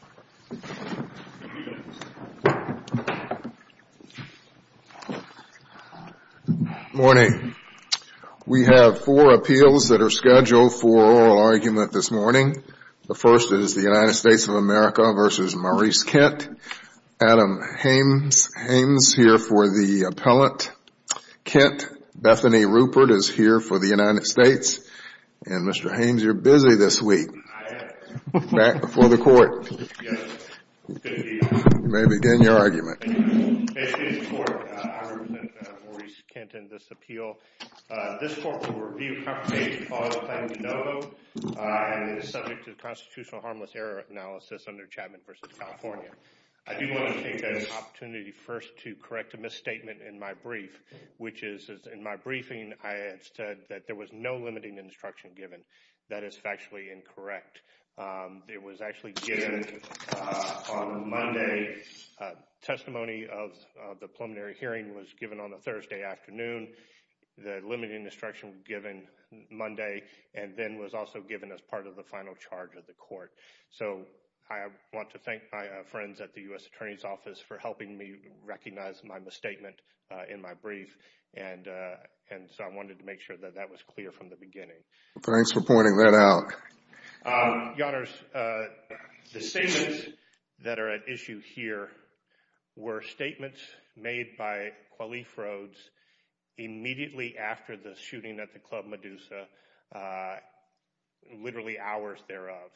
Good morning. We have four appeals that are scheduled for oral argument this morning. The first is the United States of America v. Maurice Kent. Adam Haynes here for the appellant. Kent, Bethany Rupert is here for the United States, and Mr. Haynes, you're busy this week. Back before the court. You may begin your argument. I represent Maurice Kent in this appeal. This court will review confirmation of all the claims in no vote and is subject to constitutional harmless error analysis under Chapman v. California. I do want to take this opportunity first to correct a misstatement in my brief, which is in my briefing I had said that there was no limiting instruction given. That is factually incorrect. It was actually given on Monday. Testimony of the preliminary hearing was given on a Thursday afternoon. The limiting instruction given Monday and then was also given as part of the final charge of the court. So I want to thank my friends at the U.S. Attorney's Office for helping me recognize my misstatement in my brief. And so I wanted to make sure that that was clear from the beginning. Thanks for pointing that out. Your Honors, the statements that are at issue here were statements made by Qualife Rhodes immediately after the shooting at the Club Medusa, literally hours thereof.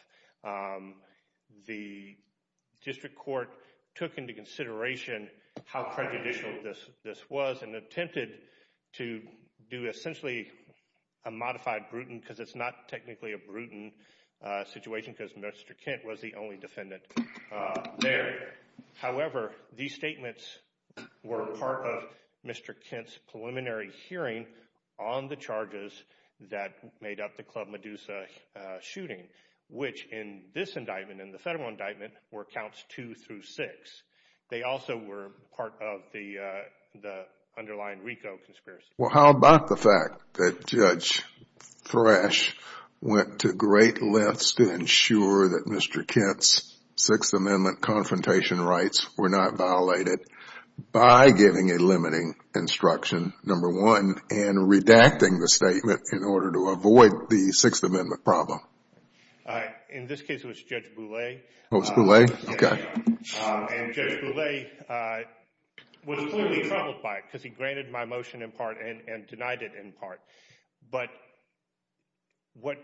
The district court took into consideration how prejudicial this was and attempted to do essentially a modified Bruton because it's not technically a Bruton situation because Mr. Kent was the only defendant there. However, these statements were part of Mr. Kent's preliminary hearing on the charges that made up the Club Medusa shooting, which in this indictment, in the federal indictment, were counts two through six. They also were part of the underlying RICO conspiracy. Well, how about the fact that Judge Thrash went to great lengths to ensure that Mr. Kent's Sixth Amendment confrontation rights were not violated by giving a limiting instruction, number one, and redacting the statement in order to avoid the Sixth Amendment problem? In this case, it was Judge Boulay. It was Boulay? Okay. And Judge Boulay was clearly troubled by it because he granted my motion in part and denied it in part. But what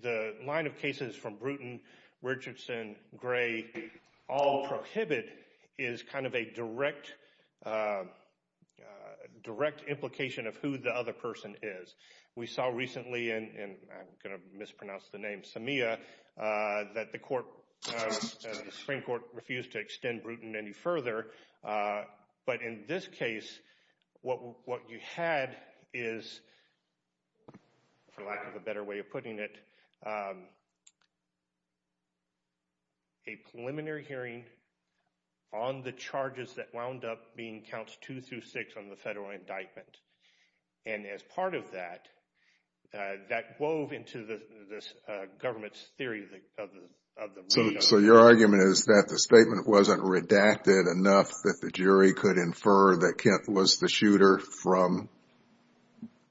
the line of cases from Bruton, Richardson, Gray all prohibit is kind of a direct implication of who the other person is. We saw recently, and I'm going to mispronounce the name, Samia, that the Supreme Court refused to extend Bruton any further, but in this case, what you had is, for lack of a better way of putting it, a preliminary hearing on the charges that wound up being counts two through six on the federal indictment. And as part of that, that wove into this government's theory of the RICO. So your argument is that the statement wasn't redacted enough that the jury could infer that Kent was the shooter from?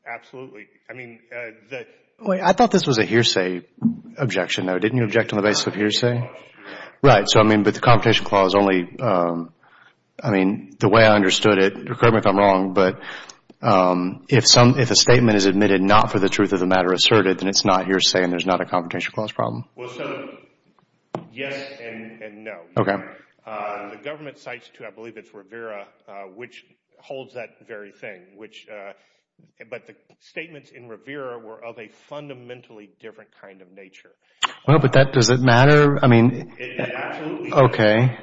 Absolutely. I mean, I thought this was a hearsay objection. Didn't you object on the basis of hearsay? Right. So, I mean, but the competition clause only, I mean, the way I understood it, correct me if I'm wrong, but if a statement is admitted not for the truth of the matter asserted, then it's not hearsay and there's not a competition clause problem? Well, so, yes and no. Okay. The government cites, too, I believe it's Rivera, which holds that very thing. But the statements in Rivera were of a fundamentally different kind of nature. Well, but does it matter? Absolutely. Okay.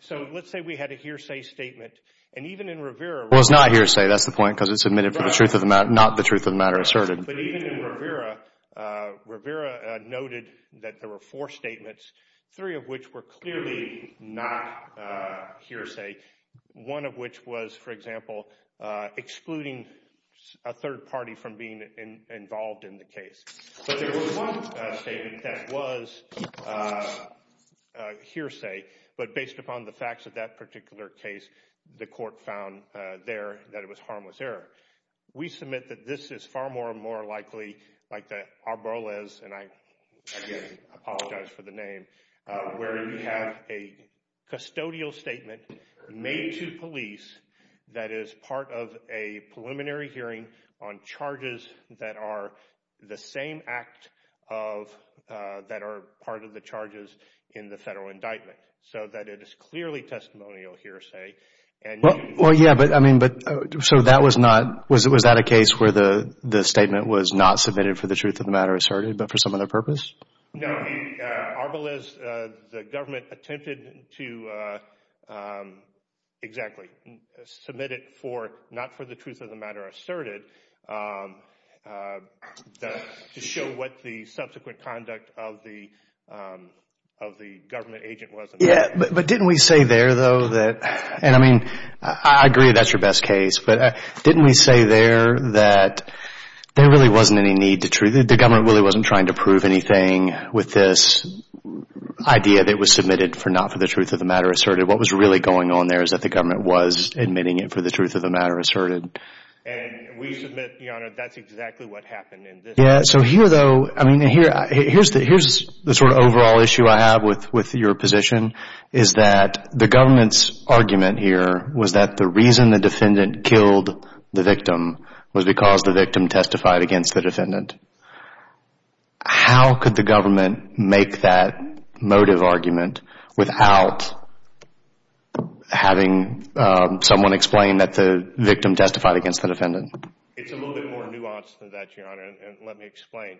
So let's say we had a hearsay statement, and even in Rivera. Well, it's not hearsay, that's the point, because it's admitted for the truth of the matter, not the truth of the matter asserted. But even in Rivera, Rivera noted that there were four statements, three of which were clearly not hearsay, one of which was, for example, excluding a third party from being involved in the case. But there was one statement that was hearsay, but based upon the facts of that particular case, the court found there that it was harmless error. We submit that this is far more and more likely like the Arboles, and I, again, apologize for the name, where you have a custodial statement made to police that is part of a preliminary hearing on charges that are the same act of, that are part of the charges in the federal indictment, so that it is clearly testimonial hearsay. Well, yeah, but I mean, so that was not, was that a case where the statement was not submitted for the truth of the matter asserted, but for some other purpose? No, the Arboles, the government attempted to, exactly, submit it for, not for the truth of the matter asserted, to show what the subsequent conduct of the government agent was. Yeah, but didn't we say there, though, that, and I mean, I agree that that's your best case, but didn't we say there that there really wasn't any need to, the government really wasn't trying to prove anything with this idea that it was submitted for, not for the truth of the matter asserted? What was really going on there is that the government was admitting it for the truth of the matter asserted. And we submit, Your Honor, that's exactly what happened in this case. Yeah, so here, though, I mean, here's the sort of overall issue I have with your position, is that the government's argument here was that the reason the defendant killed the victim was because the victim testified against the defendant. How could the government make that motive argument without having someone explain that the victim testified against the defendant? It's a little bit more nuanced than that, Your Honor, and let me explain.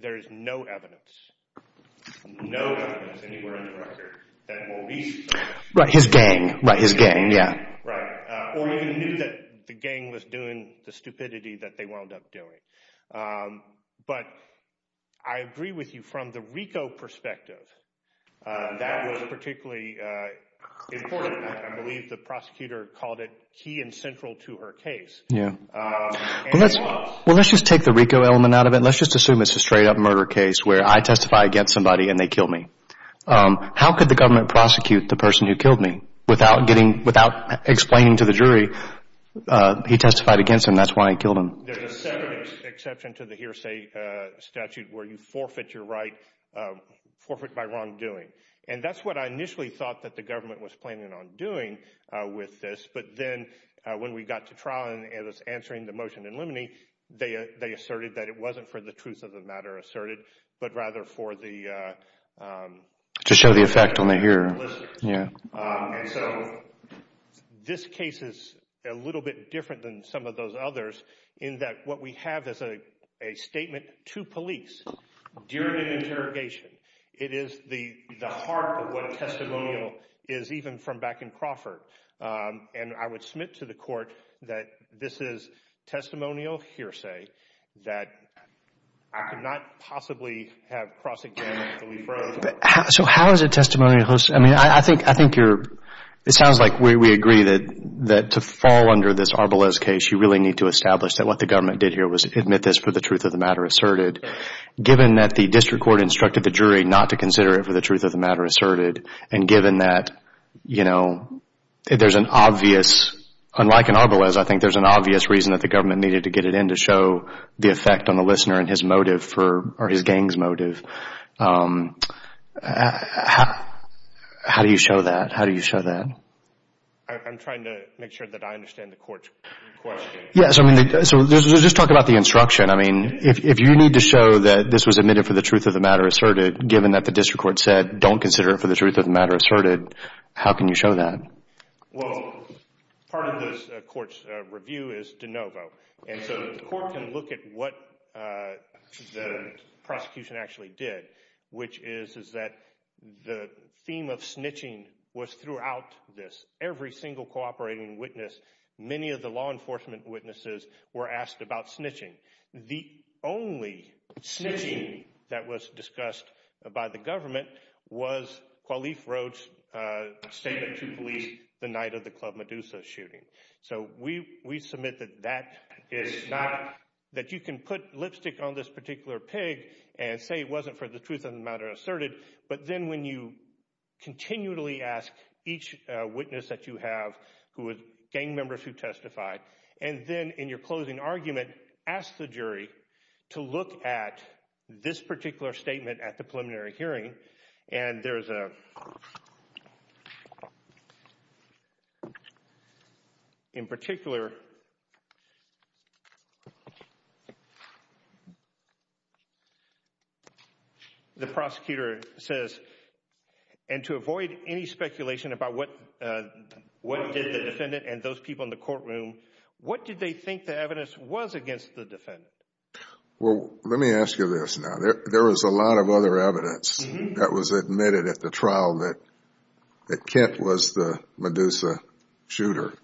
There is no evidence, no evidence anywhere in the record that Maurice. Right, his gang. Right, his gang, yeah. Right, or he knew that the gang was doing the stupidity that they wound up doing. But I agree with you from the RICO perspective, that was particularly important. I believe the prosecutor called it key and central to her case. Well, let's just take the RICO element out of it. Let's just assume it's a straight up murder case where I testify against somebody and they kill me. How could the government prosecute the person who killed me without getting, without explaining to the jury he testified against him, that's why he killed him? There's a second exception to the hearsay statute where you forfeit your right, forfeit by wrongdoing. And that's what I initially thought that the government was planning on doing with this. But then when we got to trial and it was answering the motion in limine, they asserted that it wasn't for the truth of the matter asserted, but rather for the. To show the effect on the hearer. Yeah. And so this case is a little bit different than some of those others in that what we have is a statement to police during an interrogation. It is the heart of what a testimonial is even from back in Crawford. And I would submit to the court that this is testimonial hearsay that I could not possibly have prosecuted. So how is it testimonial hearsay? I mean, I think you're, it sounds like we agree that to fall under this Arbelez case, you really need to establish that what the government did here was admit this for the truth of the matter asserted. But given that the district court instructed the jury not to consider it for the truth of the matter asserted, and given that, you know, there's an obvious, unlike in Arbelez, I think there's an obvious reason that the government needed to get it in to show the effect on the listener and his motive for, or his gang's motive. How do you show that? How do you show that? I'm trying to make sure that I understand the court's question. Yes, I mean, so let's just talk about the instruction. I mean, if you need to show that this was admitted for the truth of the matter asserted, given that the district court said don't consider it for the truth of the matter asserted, how can you show that? Well, part of this court's review is de novo. And so the court can look at what the prosecution actually did, which is that the theme of snitching was throughout this. Every single cooperating witness, many of the law enforcement witnesses were asked about snitching. The only snitching that was discussed by the government was Qualife Road's statement to police the night of the Club Medusa shooting. So we submit that that is not, that you can put lipstick on this particular pig and say it wasn't for the truth of the matter asserted. But then when you continually ask each witness that you have, gang members who testified, and then in your closing argument ask the jury to look at this particular statement at the preliminary hearing. And there is a, in particular, the prosecutor says, and to avoid any speculation about what did the defendant and those people in the courtroom, what did they think the evidence was against the defendant? Well, let me ask you this now. There was a lot of other evidence that was admitted at the trial that Kent was the Medusa shooter.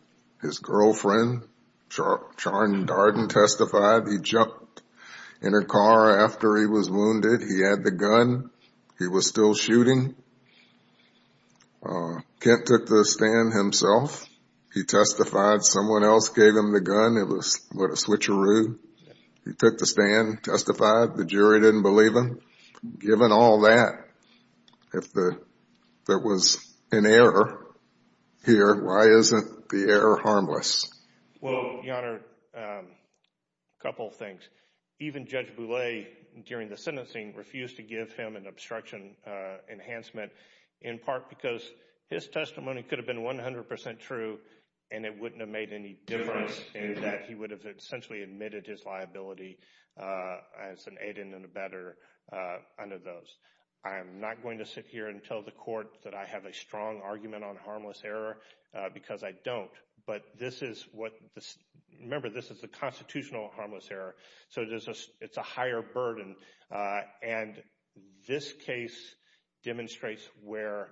His girlfriend, Charne Darden, testified. He jumped in her car after he was wounded. He had the gun. He was still shooting. Kent took the stand himself. He testified. Someone else gave him the gun. It was what, a switcheroo? He took the stand, testified. The jury didn't believe him. Given all that, if there was an error here, why isn't the error harmless? Well, Your Honor, a couple of things. Even Judge Boulay, during the sentencing, refused to give him an obstruction enhancement, in part because his testimony could have been 100% true and it wouldn't have made any difference in that he would have essentially admitted his liability as an aidant and a better under those. I am not going to sit here and tell the court that I have a strong argument on harmless error because I don't. But this is what, remember, this is a constitutional harmless error. So it's a higher burden. And this case demonstrates where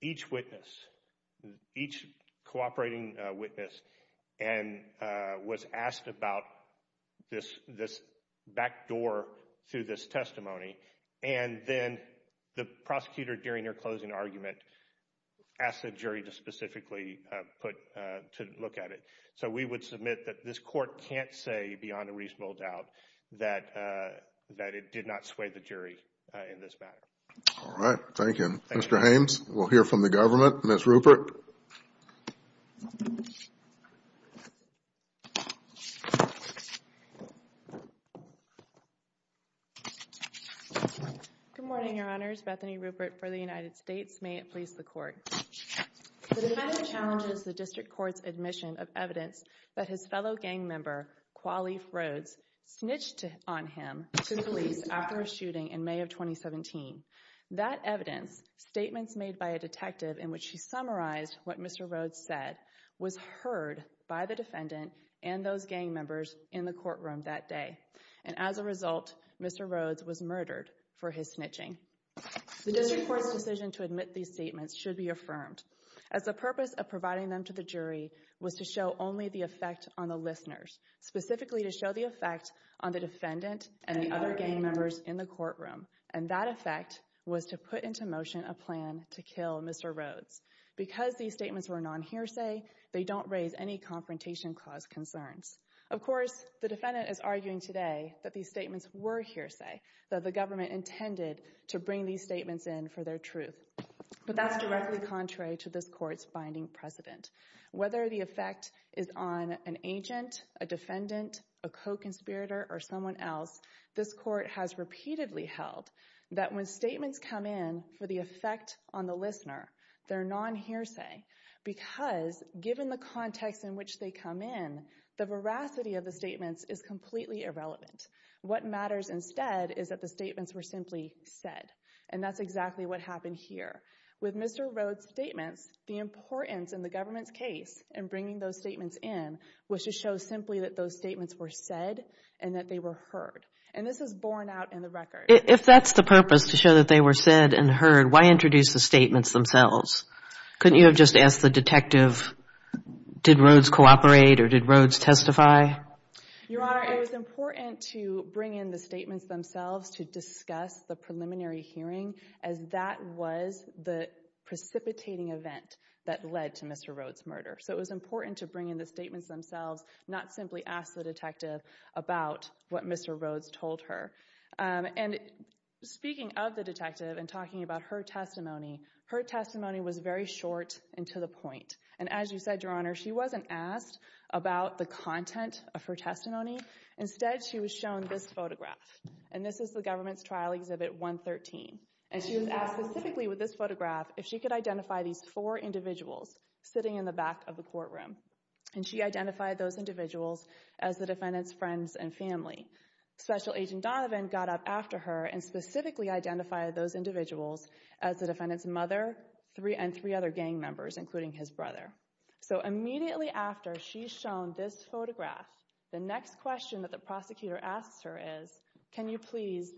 each witness, each cooperating witness, was asked about this backdoor to this testimony. And then the prosecutor, during their closing argument, asked the jury to specifically look at it. So we would submit that this court can't say, beyond a reasonable doubt, that it did not sway the jury in this matter. All right. Thank you. Thank you. Mr. Haynes, we'll hear from the government. Ms. Rupert. Good morning, Your Honors. Bethany Rupert for the United States. May it please the Court. The defendant challenges the district court's admission of evidence that his fellow gang member, Qualief Rhodes, snitched on him to the police after a shooting in May of 2017. That evidence, statements made by a detective in which he summarized what Mr. Rhodes said, was heard by the defendant and those gang members in the courtroom that day. And as a result, Mr. Rhodes was murdered for his snitching. The district court's decision to admit these statements should be affirmed, as the purpose of providing them to the jury was to show only the effect on the listeners, specifically to show the effect on the defendant and the other gang members in the courtroom. And that effect was to put into motion a plan to kill Mr. Rhodes. Because these statements were non-hearsay, they don't raise any confrontation cause concerns. Of course, the defendant is arguing today that these statements were hearsay, that the government intended to bring these statements in for their truth. But that's directly contrary to this court's binding precedent. Whether the effect is on an agent, a defendant, a co-conspirator, or someone else, this court has repeatedly held that when statements come in for the effect on the listener, they're non-hearsay. Because given the context in which they come in, the veracity of the statements is completely irrelevant. What matters instead is that the statements were simply said. And that's exactly what happened here. With Mr. Rhodes' statements, the importance in the government's case in bringing those statements in was to show simply that those statements were said and that they were heard. And this is borne out in the record. If that's the purpose, to show that they were said and heard, why introduce the statements themselves? Couldn't you have just asked the detective, did Rhodes cooperate or did Rhodes testify? Your Honor, it was important to bring in the statements themselves to discuss the preliminary hearing as that was the precipitating event that led to Mr. Rhodes' murder. So it was important to bring in the statements themselves, not simply ask the detective about what Mr. Rhodes told her. And speaking of the detective and talking about her testimony, her testimony was very short and to the point. And as you said, Your Honor, she wasn't asked about the content of her testimony. Instead, she was shown this photograph. And this is the government's trial exhibit 113. And she was asked specifically with this photograph if she could identify these four individuals sitting in the back of the courtroom. And she identified those individuals as the defendant's friends and family. Special Agent Donovan got up after her and specifically identified those individuals as the defendant's mother and three other gang members, including his brother. So immediately after she's shown this photograph, the next question that the prosecutor asks her is, can you please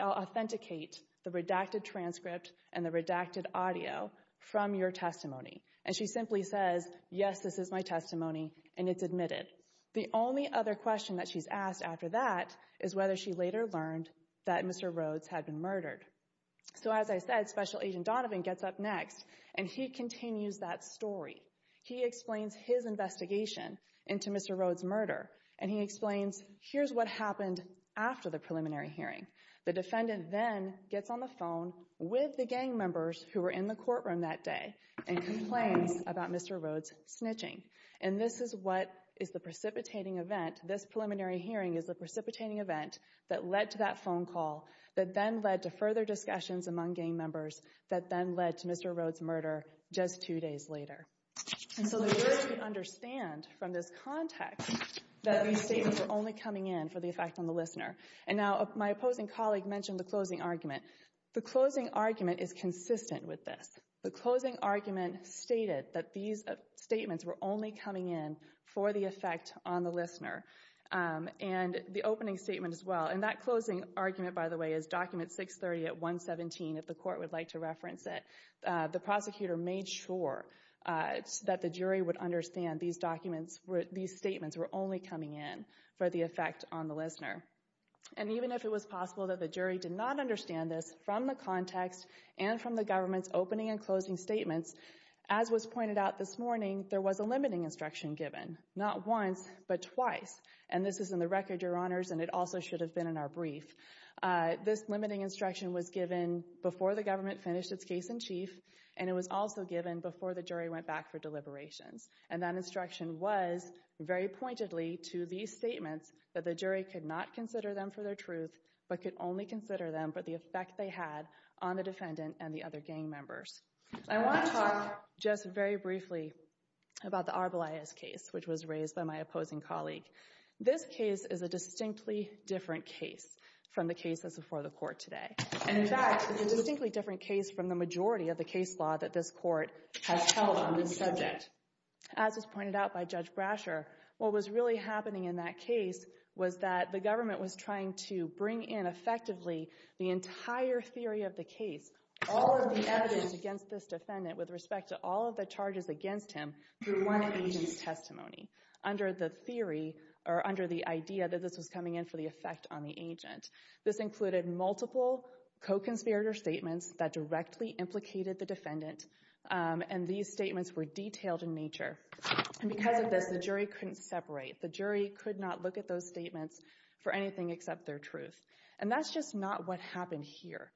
authenticate the redacted transcript and the redacted audio from your testimony? And she simply says, yes, this is my testimony, and it's admitted. The only other question that she's asked after that is whether she later learned that Mr. Rhodes had been murdered. So as I said, Special Agent Donovan gets up next, and he continues that story. He explains his investigation into Mr. Rhodes' murder, and he explains, here's what happened after the preliminary hearing. The defendant then gets on the phone with the gang members who were in the courtroom that day and complains about Mr. Rhodes snitching. And this is what is the precipitating event. This preliminary hearing is the precipitating event that led to that phone call that then led to further discussions among gang members that then led to Mr. Rhodes' murder just two days later. And so the jury can understand from this context that these statements were only coming in for the effect on the listener. And now my opposing colleague mentioned the closing argument. The closing argument is consistent with this. The closing argument stated that these statements were only coming in for the effect on the listener, and the opening statement as well. And that closing argument, by the way, is document 630 at 117, if the court would like to reference it. The prosecutor made sure that the jury would understand these documents, these statements were only coming in for the effect on the listener. And even if it was possible that the jury did not understand this from the context and from the government's opening and closing statements, as was pointed out this morning, there was a limiting instruction given. Not once, but twice. And this is in the record, Your Honors, and it also should have been in our brief. This limiting instruction was given before the government finished its case in chief, and it was also given before the jury went back for deliberations. And that instruction was, very pointedly, to these statements that the jury could not consider them for their truth, but could only consider them for the effect they had on the defendant and the other gang members. I want to talk just very briefly about the Arbelias case, which was raised by my opposing colleague. This case is a distinctly different case from the cases before the court today. And in fact, it's a distinctly different case from the majority of the case law that this court has held on this subject. As was pointed out by Judge Brasher, what was really happening in that case was that the government was trying to bring in, effectively, the entire theory of the case, all of the evidence against this defendant with respect to all of the charges against him, through one agent's testimony, under the theory, or under the idea that this was coming in for the effect on the agent. This included multiple co-conspirator statements that directly implicated the defendant, and these statements were detailed in nature. And because of this, the jury couldn't separate. The jury could not look at those statements for anything except their truth. And that's just not what happened here.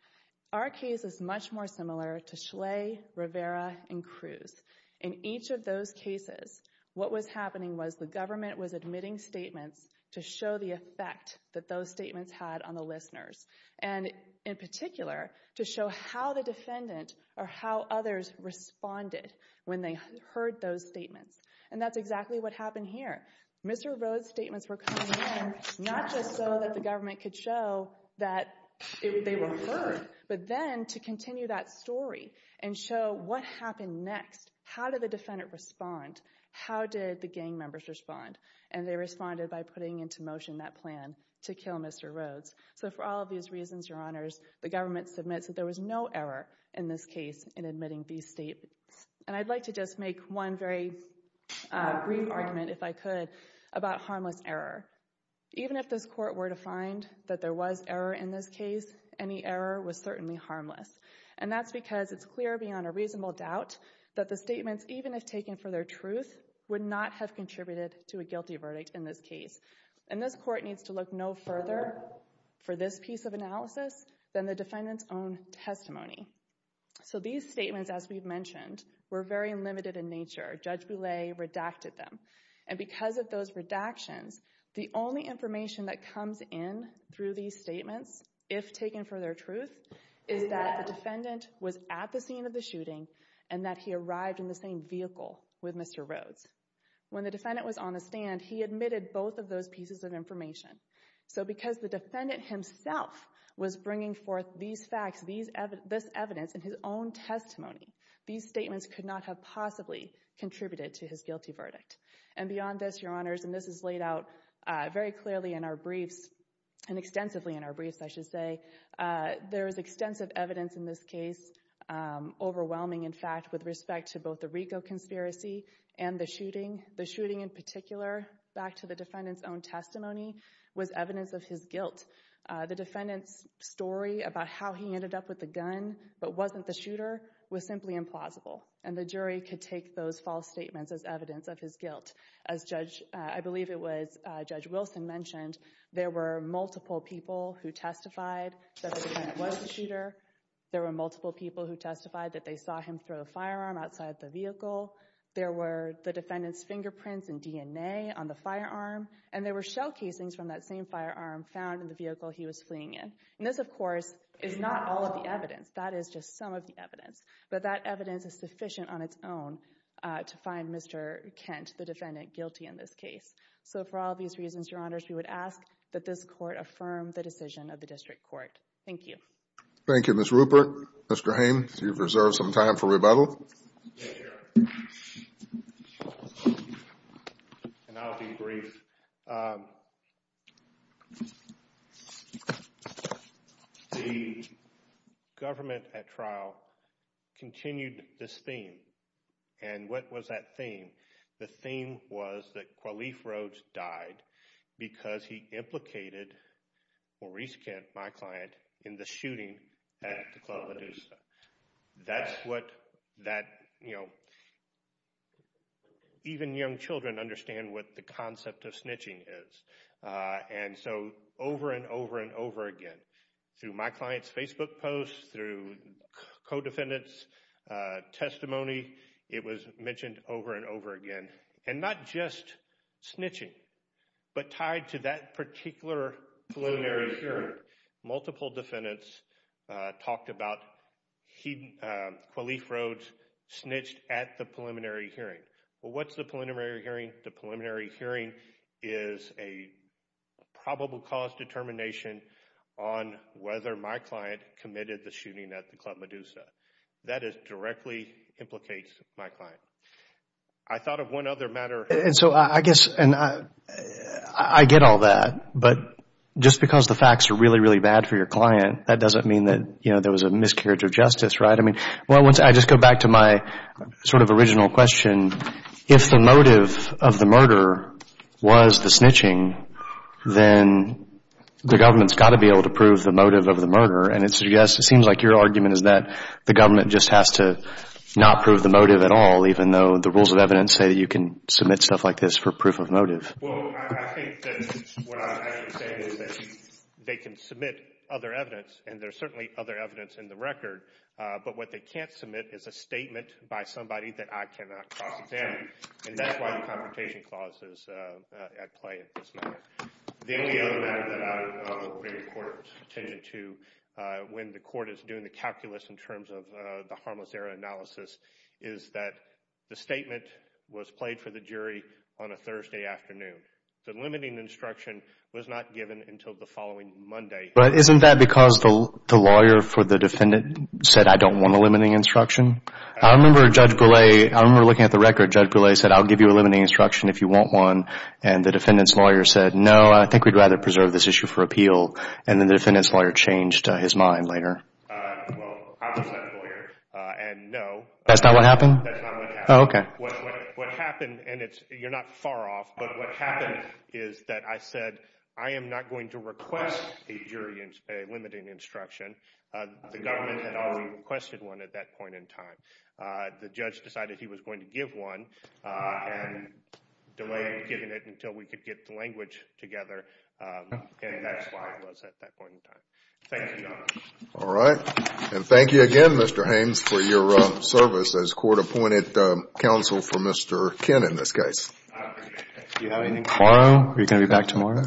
Our case is much more similar to Schley, Rivera, and Cruz. In each of those cases, what was happening was the government was admitting statements to show the effect that those statements had on the listeners, and in particular, to show how the defendant or how others responded when they heard those statements. And that's exactly what happened here. Mr. Rhodes' statements were coming in not just so that the government could show that they were heard, but then to continue that story and show what happened next. How did the defendant respond? How did the gang members respond? And they responded by putting into motion that plan to kill Mr. Rhodes. So for all of these reasons, Your Honors, the government submits that there was no error in this case in admitting these statements. And I'd like to just make one very brief argument, if I could, about harmless error. Even if this court were to find that there was error in this case, any error was certainly harmless. And that's because it's clear beyond a reasonable doubt that the statements, even if taken for their truth, would not have contributed to a guilty verdict in this case. And this court needs to look no further for this piece of analysis than the defendant's own testimony. So these statements, as we've mentioned, were very limited in nature. Judge Boulay redacted them. And because of those redactions, the only information that comes in through these statements, if taken for their truth, is that the defendant was at the scene of the shooting and that he arrived in the same vehicle with Mr. Rhodes. When the defendant was on the stand, he admitted both of those pieces of information. So because the defendant himself was bringing forth these facts, this evidence in his own testimony, these statements could not have possibly contributed to his guilty verdict. And beyond this, Your Honors, and this is laid out very clearly in our briefs, and extensively in our briefs, I should say, there is extensive evidence in this case, overwhelming, in fact, with respect to both the RICO conspiracy and the shooting. The shooting in particular, back to the defendant's own testimony, was evidence of his guilt. The defendant's story about how he ended up with the gun, but wasn't the shooter, was simply implausible. And the jury could take those false statements as evidence of his guilt. As I believe it was Judge Wilson mentioned, there were multiple people who testified that the defendant was the shooter. There were multiple people who testified that they saw him throw a firearm outside the vehicle. There were the defendant's fingerprints and DNA on the firearm. And there were shell casings from that same firearm found in the vehicle he was fleeing in. And this, of course, is not all of the evidence. That is just some of the evidence. But that evidence is sufficient on its own to find Mr. Kent, the defendant, guilty in this case. So for all of these reasons, Your Honors, we would ask that this Court affirm the decision of the District Court. Thank you. Thank you, Ms. Rupert. Mr. Haynes, you've reserved some time for rebuttal. Thank you, Your Honor. And I'll be brief. The government at trial continued this theme. And what was that theme? The theme was that Qalif Rhodes died because he implicated Maurice Kent, my client, in the shooting at the Club Medusa. That's what that, you know, even young children understand what the concept of snitching is. And so over and over and over again, through my client's Facebook posts, through co-defendants' testimony, it was mentioned over and over again. And not just snitching, but tied to that particular preliminary hearing, multiple defendants talked about Qalif Rhodes snitched at the preliminary hearing. Well, what's the preliminary hearing? The preliminary hearing is a probable cause determination on whether my client committed the shooting at the Club Medusa. That directly implicates my client. I thought of one other matter. And so I guess, and I get all that, but just because the facts are really, really bad for your client, that doesn't mean that, you know, there was a miscarriage of justice, right? I mean, well, once I just go back to my sort of original question, if the motive of the murder was the snitching, then the government's got to be able to prove the motive of the murder. And it seems like your argument is that the government just has to not prove the motive at all, even though the rules of evidence say that you can submit stuff like this for proof of motive. Well, I think that what I'm actually saying is that they can submit other evidence, and there's certainly other evidence in the record. But what they can't submit is a statement by somebody that I cannot cross examine. And that's why the Confrontation Clause is at play in this matter. The only other matter that I would bring the Court's attention to when the Court is doing the calculus in terms of the harmless error analysis is that the statement was played for the jury on a Thursday afternoon. The limiting instruction was not given until the following Monday. But isn't that because the lawyer for the defendant said, I don't want a limiting instruction? I remember Judge Goulet, I remember looking at the record, Judge Goulet said, I'll give you a limiting instruction if you want one. And the defendant's lawyer said, no, I think we'd rather preserve this issue for appeal. And then the defendant's lawyer changed his mind later. Well, I was that lawyer, and no. That's not what happened? That's not what happened. Oh, okay. What happened, and you're not far off, but what happened is that I said, I am not going to request a limiting instruction. The government had already requested one at that point in time. The judge decided he was going to give one and delayed giving it until we could get the language together, and that's why it was at that point in time. Thank you, Your Honor. All right. And thank you again, Mr. Haynes, for your service as court-appointed counsel for Mr. Kinn in this case. Do you have anything to add? Tomorrow? Are you going to be back tomorrow?